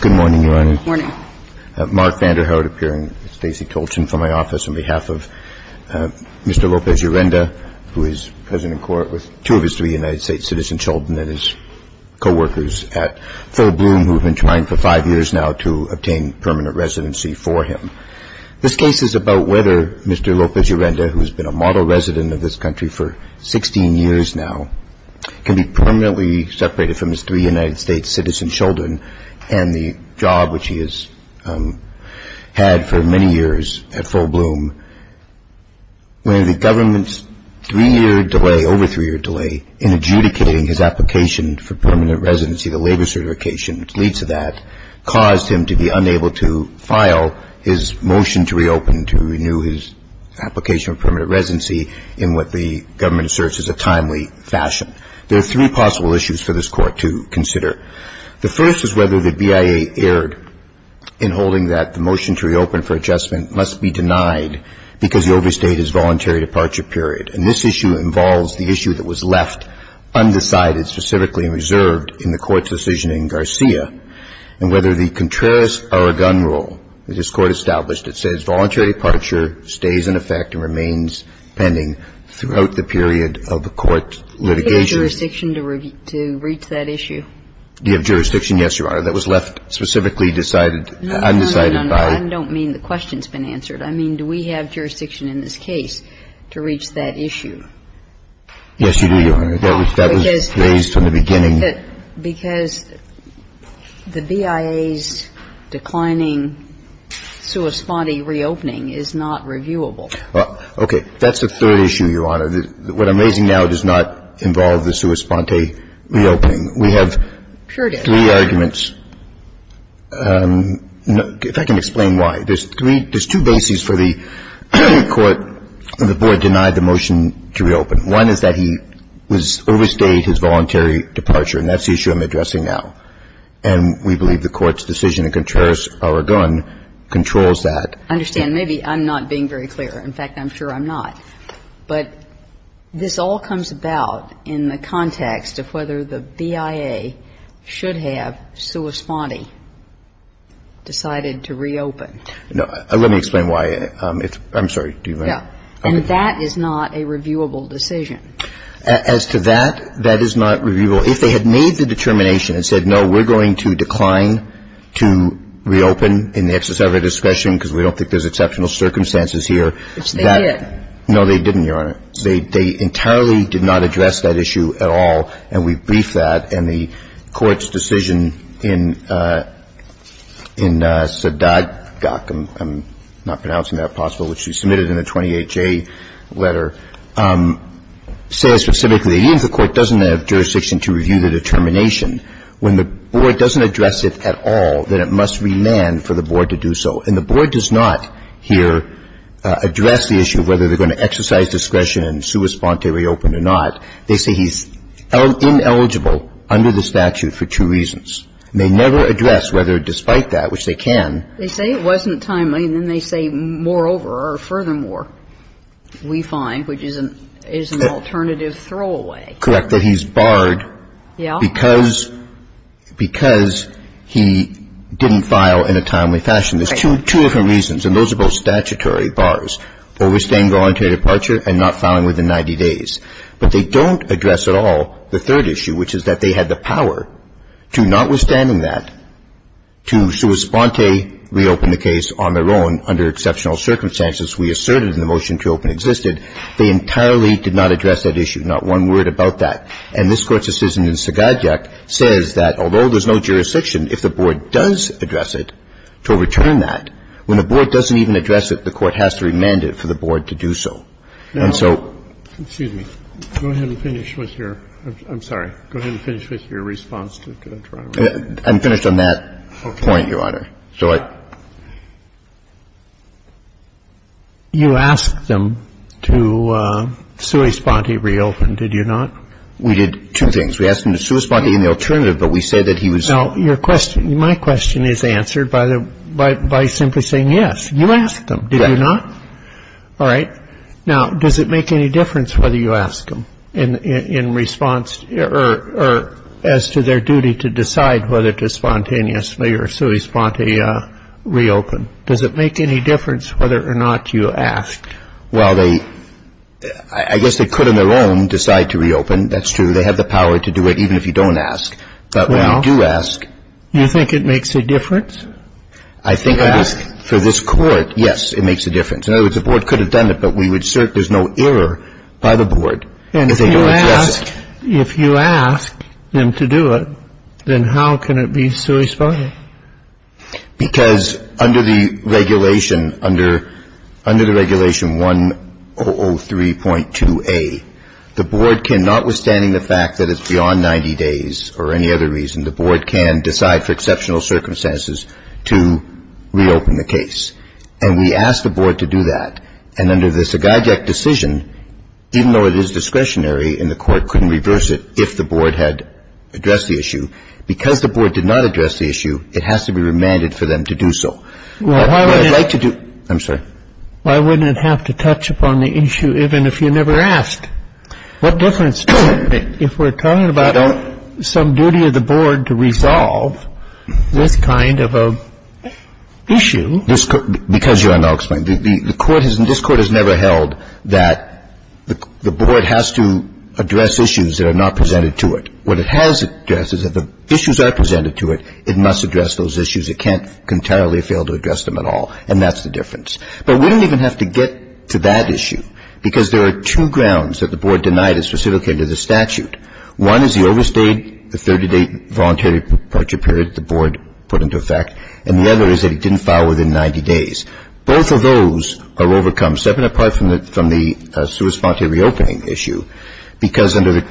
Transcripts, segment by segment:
Good morning, Your Honor. Good morning. Mark Vanderhout appearing. Stacey Tolchin from my office on behalf of Mr. López-Urenda, who is president of court with two of his three United States citizen children and his coworkers at Phil Bloom, who have been trying for five years now to obtain permanent residency for him. This case is about whether Mr. López-Urenda, who has been a model resident of this country for 16 years now, can be permanently separated from his three United States citizen children and the job which he has had for many years at Phil Bloom. When the government's three-year delay, over three-year delay, in adjudicating his application for permanent residency, the labor certification which leads to that, caused him to be unable to file his motion to reopen, to renew his application for permanent residency in what the government asserts is a timely fashion. There are three possible issues for this Court to consider. The first is whether the BIA erred in holding that the motion to reopen for adjustment must be denied because the overstate is voluntary departure period. And this issue involves the issue that was left undecided, specifically reserved in the Court's decision in Garcia, and whether the contrarist or a gun rule that this Court established that says voluntary departure stays in effect and remains pending throughout the period of the Court's litigation. Do you have jurisdiction to reach that issue? Do you have jurisdiction? Yes, Your Honor. That was left specifically decided, undecided by. No, no, no. I don't mean the question's been answered. I mean, do we have jurisdiction in this case to reach that issue? Yes, you do, Your Honor. That was raised from the beginning. Because the BIA's declining sua sponte reopening is not reviewable. Okay. That's the third issue, Your Honor. What I'm raising now does not involve the sua sponte reopening. We have three arguments. If I can explain why. There's three – there's two bases for the Court when the Board denied the motion to reopen. One is that he was – overstayed his voluntary departure. And that's the issue I'm addressing now. And we believe the Court's decision in contrarist or a gun controls that. I understand. Maybe I'm not being very clear. In fact, I'm sure I'm not. But this all comes about in the context of whether the BIA should have sua sponte decided to reopen. No. Let me explain why. I'm sorry. Do you mind? And that is not a reviewable decision. As to that, that is not reviewable. If they had made the determination and said, no, we're going to decline to reopen in the exercise of our discretion because we don't think there's exceptional circumstances here, that – Which they did. No, they didn't, Your Honor. They entirely did not address that issue at all. And we brief that. And the Court's decision in Sadat Gok – I'm not pronouncing that possibly, which she submitted in the 28-J letter – says specifically, even if the Court doesn't have jurisdiction to review the determination, when the Board doesn't address it at all, then it must remand for the Board to do so. And the Board does not here address the issue of whether they're going to exercise discretion and sua sponte reopen or not. They say he's ineligible under the statute for two reasons. They never address whether, despite that, which they can. They say it wasn't timely, and then they say, moreover or furthermore, we find, which is an alternative throwaway. Correct. That he's barred. Yeah. Because he didn't file in a timely fashion. There's two different reasons, and those are both statutory bars, overstaying voluntary departure and not filing within 90 days. But they don't address at all the third issue, which is that they had the power to, notwithstanding that, to sua sponte reopen the case on their own under exceptional circumstances we asserted in the motion to open existed. They entirely did not address that issue. Not one word about that. And this Court's decision in Sagadiac says that, although there's no jurisdiction, if the Board does address it to overturn that, when the Board doesn't even address it, the Court has to remand it for the Board to do so. And so ---- Excuse me. Go ahead and finish with your ---- I'm sorry. Go ahead and finish with your response to the trial. I'm finished on that point, Your Honor. Okay. Go ahead. You asked them to sua sponte reopen, did you not? We did two things. We asked them to sua sponte in the alternative, but we said that he was ---- Now, your question, my question is answered by simply saying yes. You asked them, did you not? Yes. All right. Now, does it make any difference whether you ask them in response or as to their duty to decide whether to spontaneously or sua sponte reopen? Does it make any difference whether or not you ask? Well, they ---- I guess they could on their own decide to reopen. That's true. They have the power to do it even if you don't ask. But when you do ask ---- Well, you think it makes a difference? I think for this Court, yes, it makes a difference. In other words, the Board could have done it, but we would assert there's no error by the Board if they don't address it. If you ask them to do it, then how can it be sua sponte? Because under the regulation, under the regulation 1003.2a, the Board cannot, withstanding the fact that it's beyond 90 days or any other reason, the Board can decide for exceptional circumstances to reopen the case. And we asked the Board to do that. And under the Sagajek decision, even though it is discretionary and the Court couldn't reverse it if the Board had addressed the issue, because the Board did not address the issue, it has to be remanded for them to do so. What I'd like to do ---- Well, why would it ---- I'm sorry. Why wouldn't it have to touch upon the issue even if you never asked? What difference does it make if we're talking about some duty of the Board to resolve this kind of an issue? Because you are now explaining. The Court has never held that the Board has to address issues that are not presented to it. What it has addressed is that if the issues are presented to it, it must address those issues. It can't entirely fail to address them at all. And that's the difference. But we don't even have to get to that issue because there are two grounds that the Board denied as specific to the statute. One is the overstayed 30-day voluntary departure period the Board put into effect. And the other is that it didn't file within 90 days. Both of those are overcome, separate apart from the sui sponte reopening issue, because under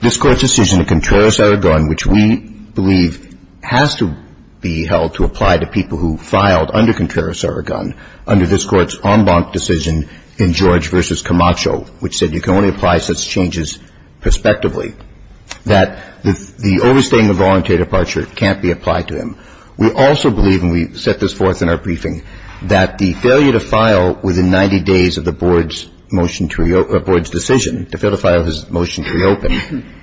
this Court's decision in Contreras-Aragon, which we believe has to be held to apply to people who filed under Contreras-Aragon under this Court's en banc decision in George v. Camacho, which said you can only apply such changes prospectively, that the overstaying of voluntary departure can't be applied to him. We also believe, and we set this forth in our briefing, that the failure to file within 90 days of the Board's decision to fail to file his motion to reopen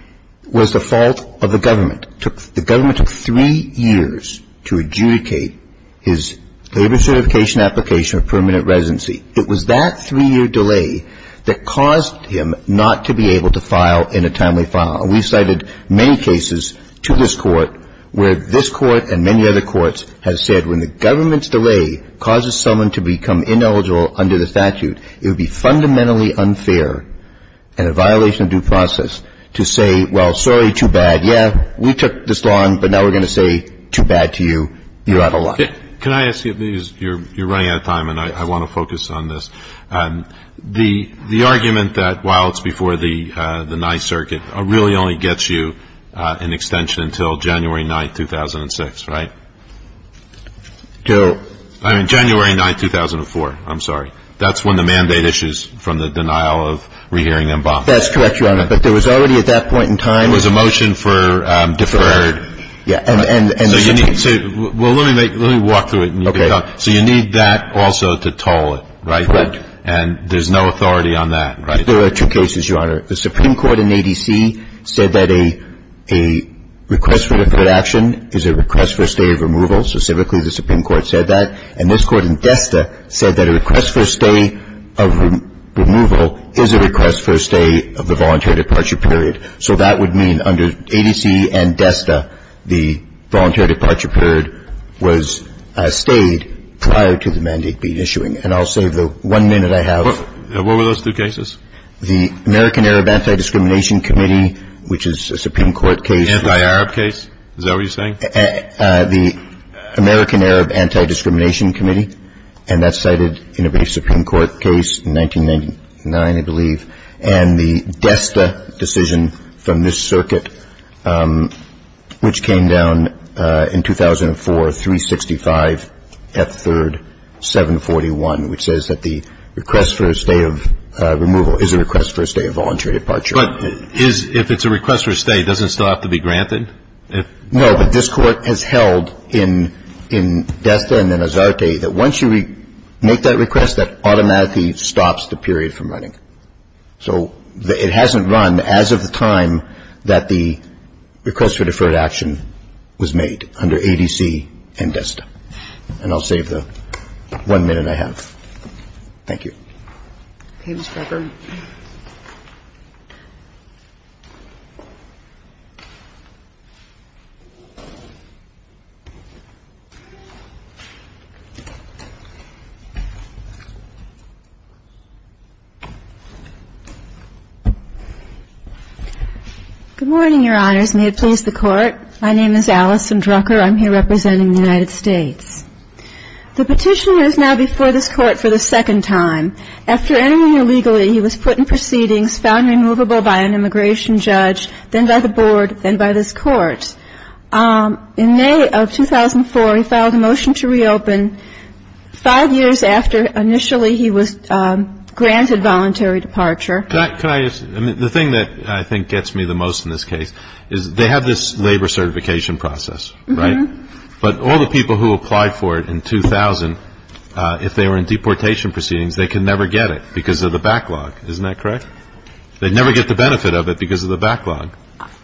was the fault of the government. The government took three years to adjudicate his labor certification application of permanent residency. It was that three-year delay that caused him not to be able to file in a timely file. We've cited many cases to this Court where this Court and many other courts have said when the government's delay causes someone to become ineligible under the statute, it would be fundamentally unfair and a violation of due process to say, well, sorry, too bad. Yeah, we took this long, but now we're going to say too bad to you. You're out of luck. Can I ask you, because you're running out of time and I want to focus on this. The argument that while it's before the Ninth Circuit really only gets you an extension until January 9th, 2006, right? I mean, January 9th, 2004. I'm sorry. That's when the mandate issues from the denial of rehearing and bond. That's correct, Your Honor. But there was already at that point in time. There was a motion for deferred. Yeah. Well, let me walk through it. Okay. So you need that also to toll it, right? Correct. And there's no authority on that, right? There are two cases, Your Honor. The Supreme Court in A.D.C. said that a request for deferred action is a request for a stay of removal. Specifically, the Supreme Court said that. And this Court in Desta said that a request for a stay of removal is a request for a stay of the voluntary departure period. So that would mean under A.D.C. and Desta, the voluntary departure period was stayed prior to the mandate being issuing. And I'll say the one minute I have. What were those two cases? The American Arab Anti-Discrimination Committee, which is a Supreme Court case. Anti-Arab case? Is that what you're saying? The American Arab Anti-Discrimination Committee. And that's cited in a brief Supreme Court case in 1999, I believe. And the Desta decision from this circuit, which came down in 2004, 365 F. 3rd, 741, which says that the request for a stay of removal is a request for a stay of voluntary departure. But if it's a request for a stay, does it still have to be granted? No, but this Court has held in Desta and then Azarte that once you make that request, that automatically stops the period from running. So it hasn't run as of the time that the request for deferred action was made under A.D.C. and Desta. And I'll save the one minute I have. Thank you. Ms. Drucker. Good morning, Your Honors. May it please the Court. My name is Allison Drucker. I'm here representing the United States. The petitioner is now before this Court for the second time. After entering illegally, he was put in proceedings, found removable by an immigration judge, then by the Board, then by this Court. In May of 2004, he filed a motion to reopen five years after initially he was granted voluntary departure. The thing that I think gets me the most in this case is they have this labor certification process, right? But all the people who applied for it in 2000, if they were in deportation proceedings, they could never get it because of the backlog. Isn't that correct? They'd never get the benefit of it because of the backlog.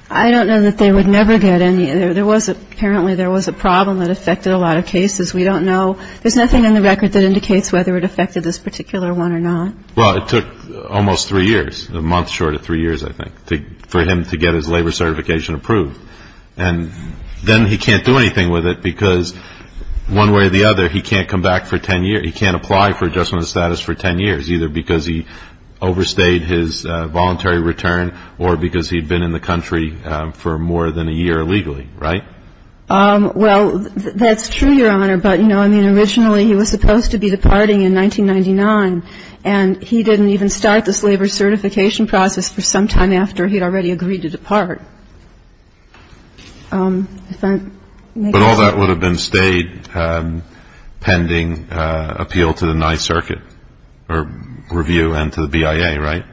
I don't know that they would never get any. Apparently there was a problem that affected a lot of cases. We don't know. There's nothing in the record that indicates whether it affected this particular one or not. Well, it took almost three years, a month short of three years, I think, for him to get his labor certification approved. And then he can't do anything with it because, one way or the other, he can't come back for 10 years. He can't apply for adjustment of status for 10 years, either because he overstayed his voluntary return or because he'd been in the country for more than a year illegally. Right? Well, that's true, Your Honor. But, you know, I mean, originally he was supposed to be departing in 1999, and he didn't even start this labor certification process for some time after he'd already agreed to depart. But all that would have been stayed pending appeal to the Ninth Circuit or review and to the BIA, right?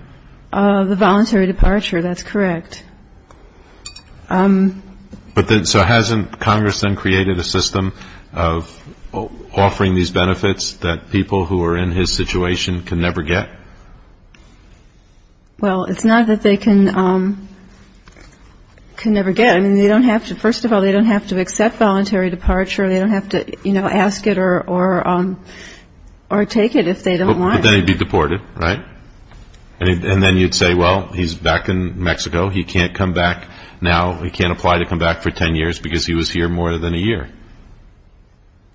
The voluntary departure. That's correct. But so hasn't Congress then created a system of offering these benefits that people who are in his situation can never get? Well, it's not that they can never get. I mean, they don't have to. First of all, they don't have to accept voluntary departure. They don't have to, you know, ask it or take it if they don't want it. But then he'd be deported, right? He can't come back now. He can't apply to come back for 10 years because he was here more than a year.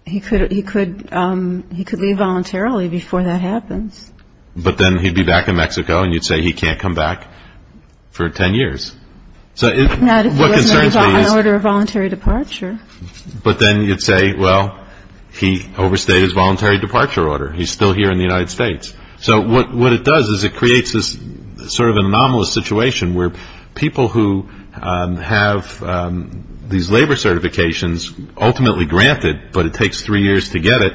He could leave voluntarily before that happens. But then he'd be back in Mexico, and you'd say he can't come back for 10 years. Not if he wasn't on order of voluntary departure. But then you'd say, well, he overstayed his voluntary departure order. He's still here in the United States. So what it does is it creates this sort of anomalous situation where people who have these labor certifications ultimately granted, but it takes three years to get it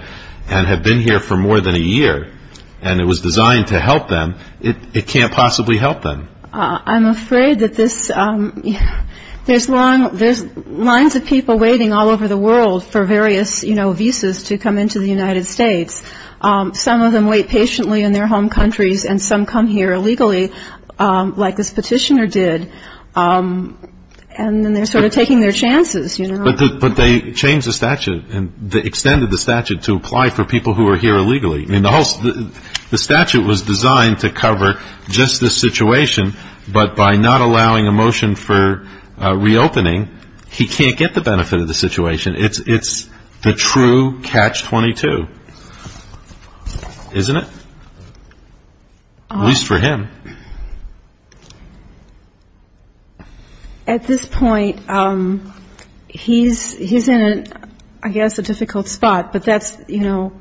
and have been here for more than a year, and it was designed to help them, it can't possibly help them. I'm afraid that this ‑‑ there's lines of people waiting all over the world for various, you know, visas to come into the United States. Some of them wait patiently in their home countries, and some come here illegally, like this petitioner did, and then they're sort of taking their chances, you know. But they changed the statute and extended the statute to apply for people who are here illegally. I mean, the whole ‑‑ the statute was designed to cover just this situation, but by not allowing a motion for reopening, he can't get the benefit of the situation. It's the true catch-22, isn't it? At least for him. At this point, he's in, I guess, a difficult spot, but that's, you know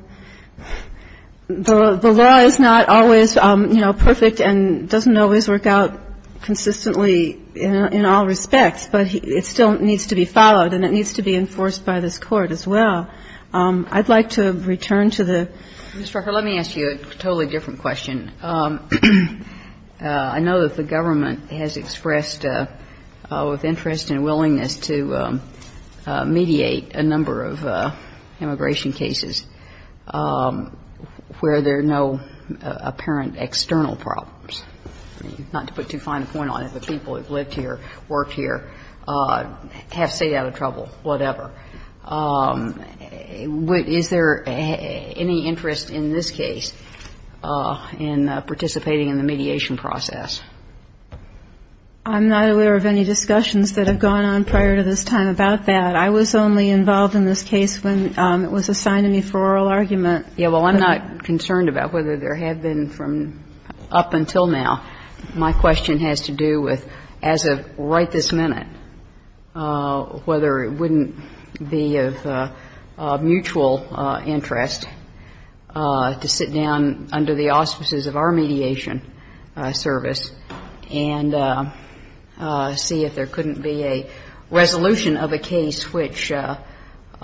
‑‑ the law is not always, you know, perfect and doesn't always work out consistently in all respects, but it still needs to be followed and it needs to be enforced by this Court as well. I'd like to return to the ‑‑ Ms. Rucker, let me ask you a totally different question. I know that the government has expressed interest and willingness to mediate a number of immigration cases where there are no apparent external problems. Not to put too fine a point on it, but people who have lived here, worked here, have stayed out of trouble, whatever. Is there any interest in this case in participating in the mediation process? I'm not aware of any discussions that have gone on prior to this time about that. I was only involved in this case when it was assigned to me for oral argument. Well, I'm not concerned about whether there have been from up until now. My question has to do with, as of right this minute, whether it wouldn't be of mutual interest to sit down under the auspices of our mediation service and see if there couldn't be a resolution of a case which, from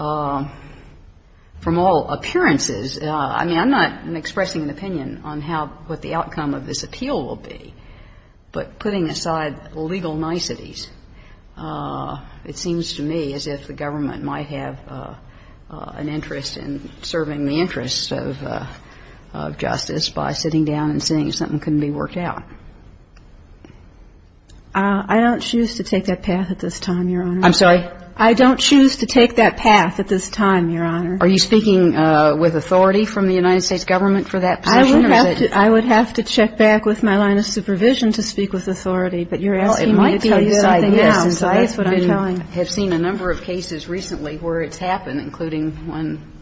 all appearances, I mean, I'm not expressing an opinion on what the outcome of this appeal will be, but putting aside legal niceties, it seems to me as if the government might have an interest in serving the interests of justice by sitting down and seeing if something couldn't be worked out. I don't choose to take that path at this time, Your Honor. I'm sorry? I don't choose to take that path at this time, Your Honor. Are you speaking with authority from the United States government for that position? I would have to check back with my line of supervision to speak with authority. But you're asking me to tell you something else, and so that's what I'm telling you. I have seen a number of cases recently where it's happened, including one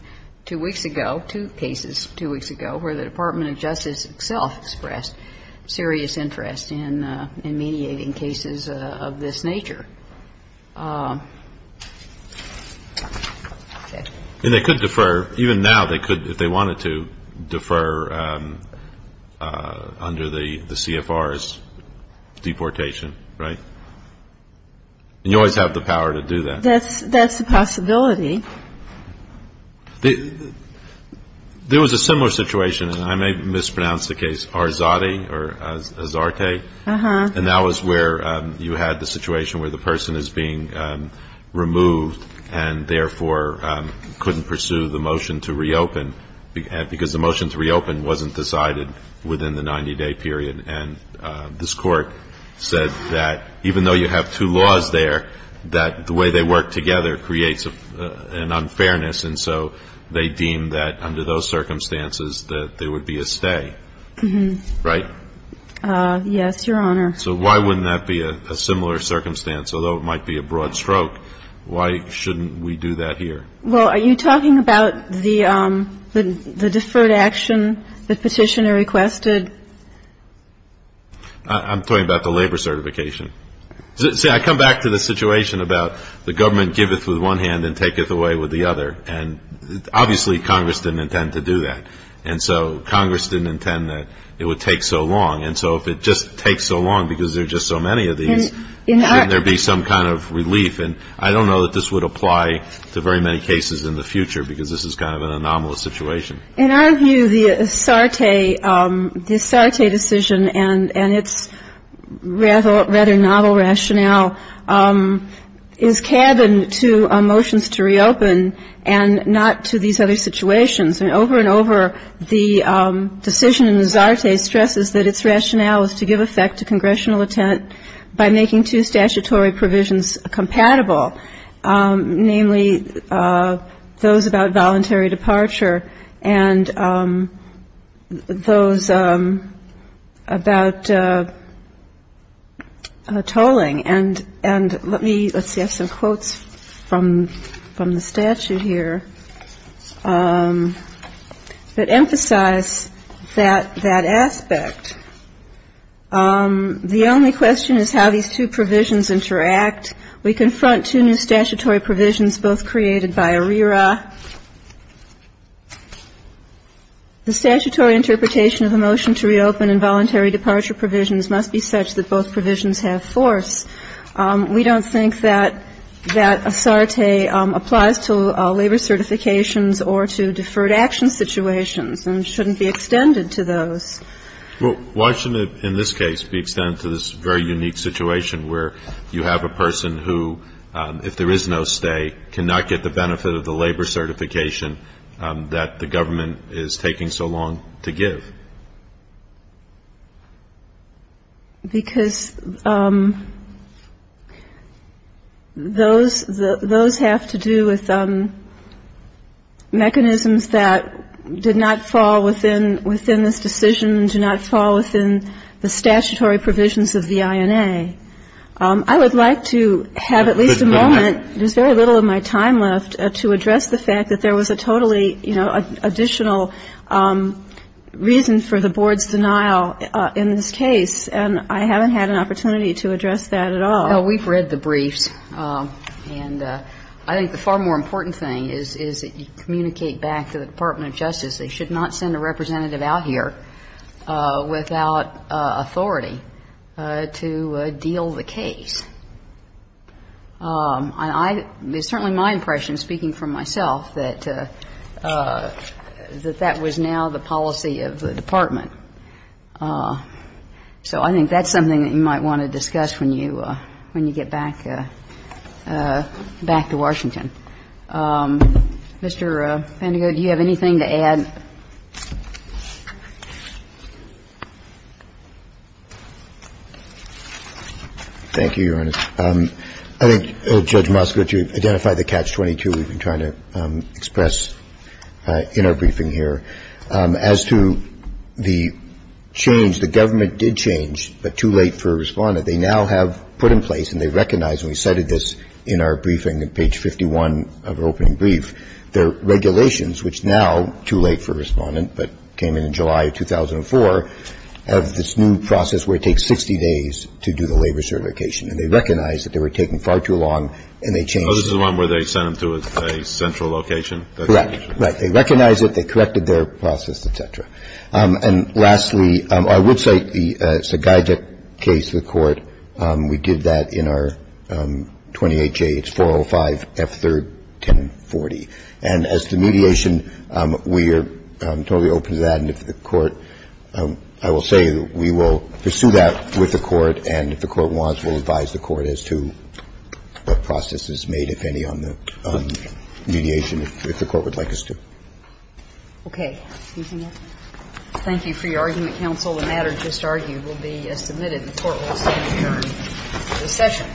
two weeks ago, two cases two weeks ago, where the Department of Justice itself expressed serious interest in mediating cases of this nature. And they could defer. Even now they could, if they wanted to, defer under the CFR's deportation, right? And you always have the power to do that. That's a possibility. There was a similar situation, and I may have mispronounced the case, Arzate or Azarte. And that was where you had the situation where the person is being removed and therefore couldn't pursue the motion to reopen because the motion to reopen wasn't decided within the 90-day period. And this Court said that even though you have two laws there, that the way they work together creates an unfairness. And so they deemed that under those circumstances that there would be a stay, right? Yes, Your Honor. So why wouldn't that be a similar circumstance? Although it might be a broad stroke, why shouldn't we do that here? Well, are you talking about the deferred action that Petitioner requested? I'm talking about the labor certification. See, I come back to the situation about the government giveth with one hand and taketh away with the other. And obviously Congress didn't intend to do that. And so Congress didn't intend that it would take so long. And so if it just takes so long because there are just so many of these, shouldn't there be some kind of relief? And I don't know that this would apply to very many cases in the future because this is kind of an anomalous situation. In our view, the Azarte decision and its rather novel rationale is cabin to motions to reopen and not to these other situations. And over and over, the decision in Azarte stresses that its rationale is to give effect to congressional intent by making two statutory provisions compatible, namely those about voluntary departure and those about tolling. And let me, let's see, I have some quotes from the statute here that emphasize that aspect. The only question is how these two provisions interact. We confront two new statutory provisions both created by ARERA. The statutory interpretation of a motion to reopen and voluntary departure provisions must be such that both provisions have force. We don't think that Azarte applies to labor certifications or to deferred action situations and shouldn't be extended to those. Well, why shouldn't it in this case be extended to this very unique situation where you have a person who, if there is no stay, cannot get the benefit of the labor certification that the government is taking so long to give? Because those have to do with mechanisms that did not fall within this decision, did not fall within the statutory provisions of the INA. I would like to have at least a moment, there's very little of my time left, to address the fact that there was a totally, you know, additional reason for the board's denial in this case. And I haven't had an opportunity to address that at all. Well, we've read the briefs. And I think the far more important thing is that you communicate back to the Department of Justice they should not send a representative out here without authority to deal the case. And I – it's certainly my impression, speaking for myself, that that was now the policy of the Department. So I think that's something that you might want to discuss when you get back to Washington. Mr. Pandego, do you have anything to add? Thank you, Your Honor. I think, Judge Moskowitz, you've identified the catch-22 we've been trying to express in our briefing here. As to the change, the government did change, but too late for a Respondent. They now have put in place, and they recognize, and we cited this in our briefing on page 51 of our opening brief, their regulations, which now, too late for a Respondent, but came in in July of 2004, have this new process where it takes 60 days to do the labor certification. And they recognize that they were taking far too long, and they changed it. So this is the one where they sent them to a central location? Correct. They recognize it. They corrected their process, et cetera. And lastly, I would say it's a guide case to the Court. We did that in our 28J. It's 405 F3rd 1040. And as to mediation, we are totally open to that. And if the Court – I will say that we will pursue that with the Court, and if the Court wants, we'll advise the Court as to what process is made, if any, on the mediation if the Court would like us to. Okay. Anything else? Thank you for your argument, counsel. The matter just argued will be submitted and the Court will stand adjourned. Recession. All rise. Recession.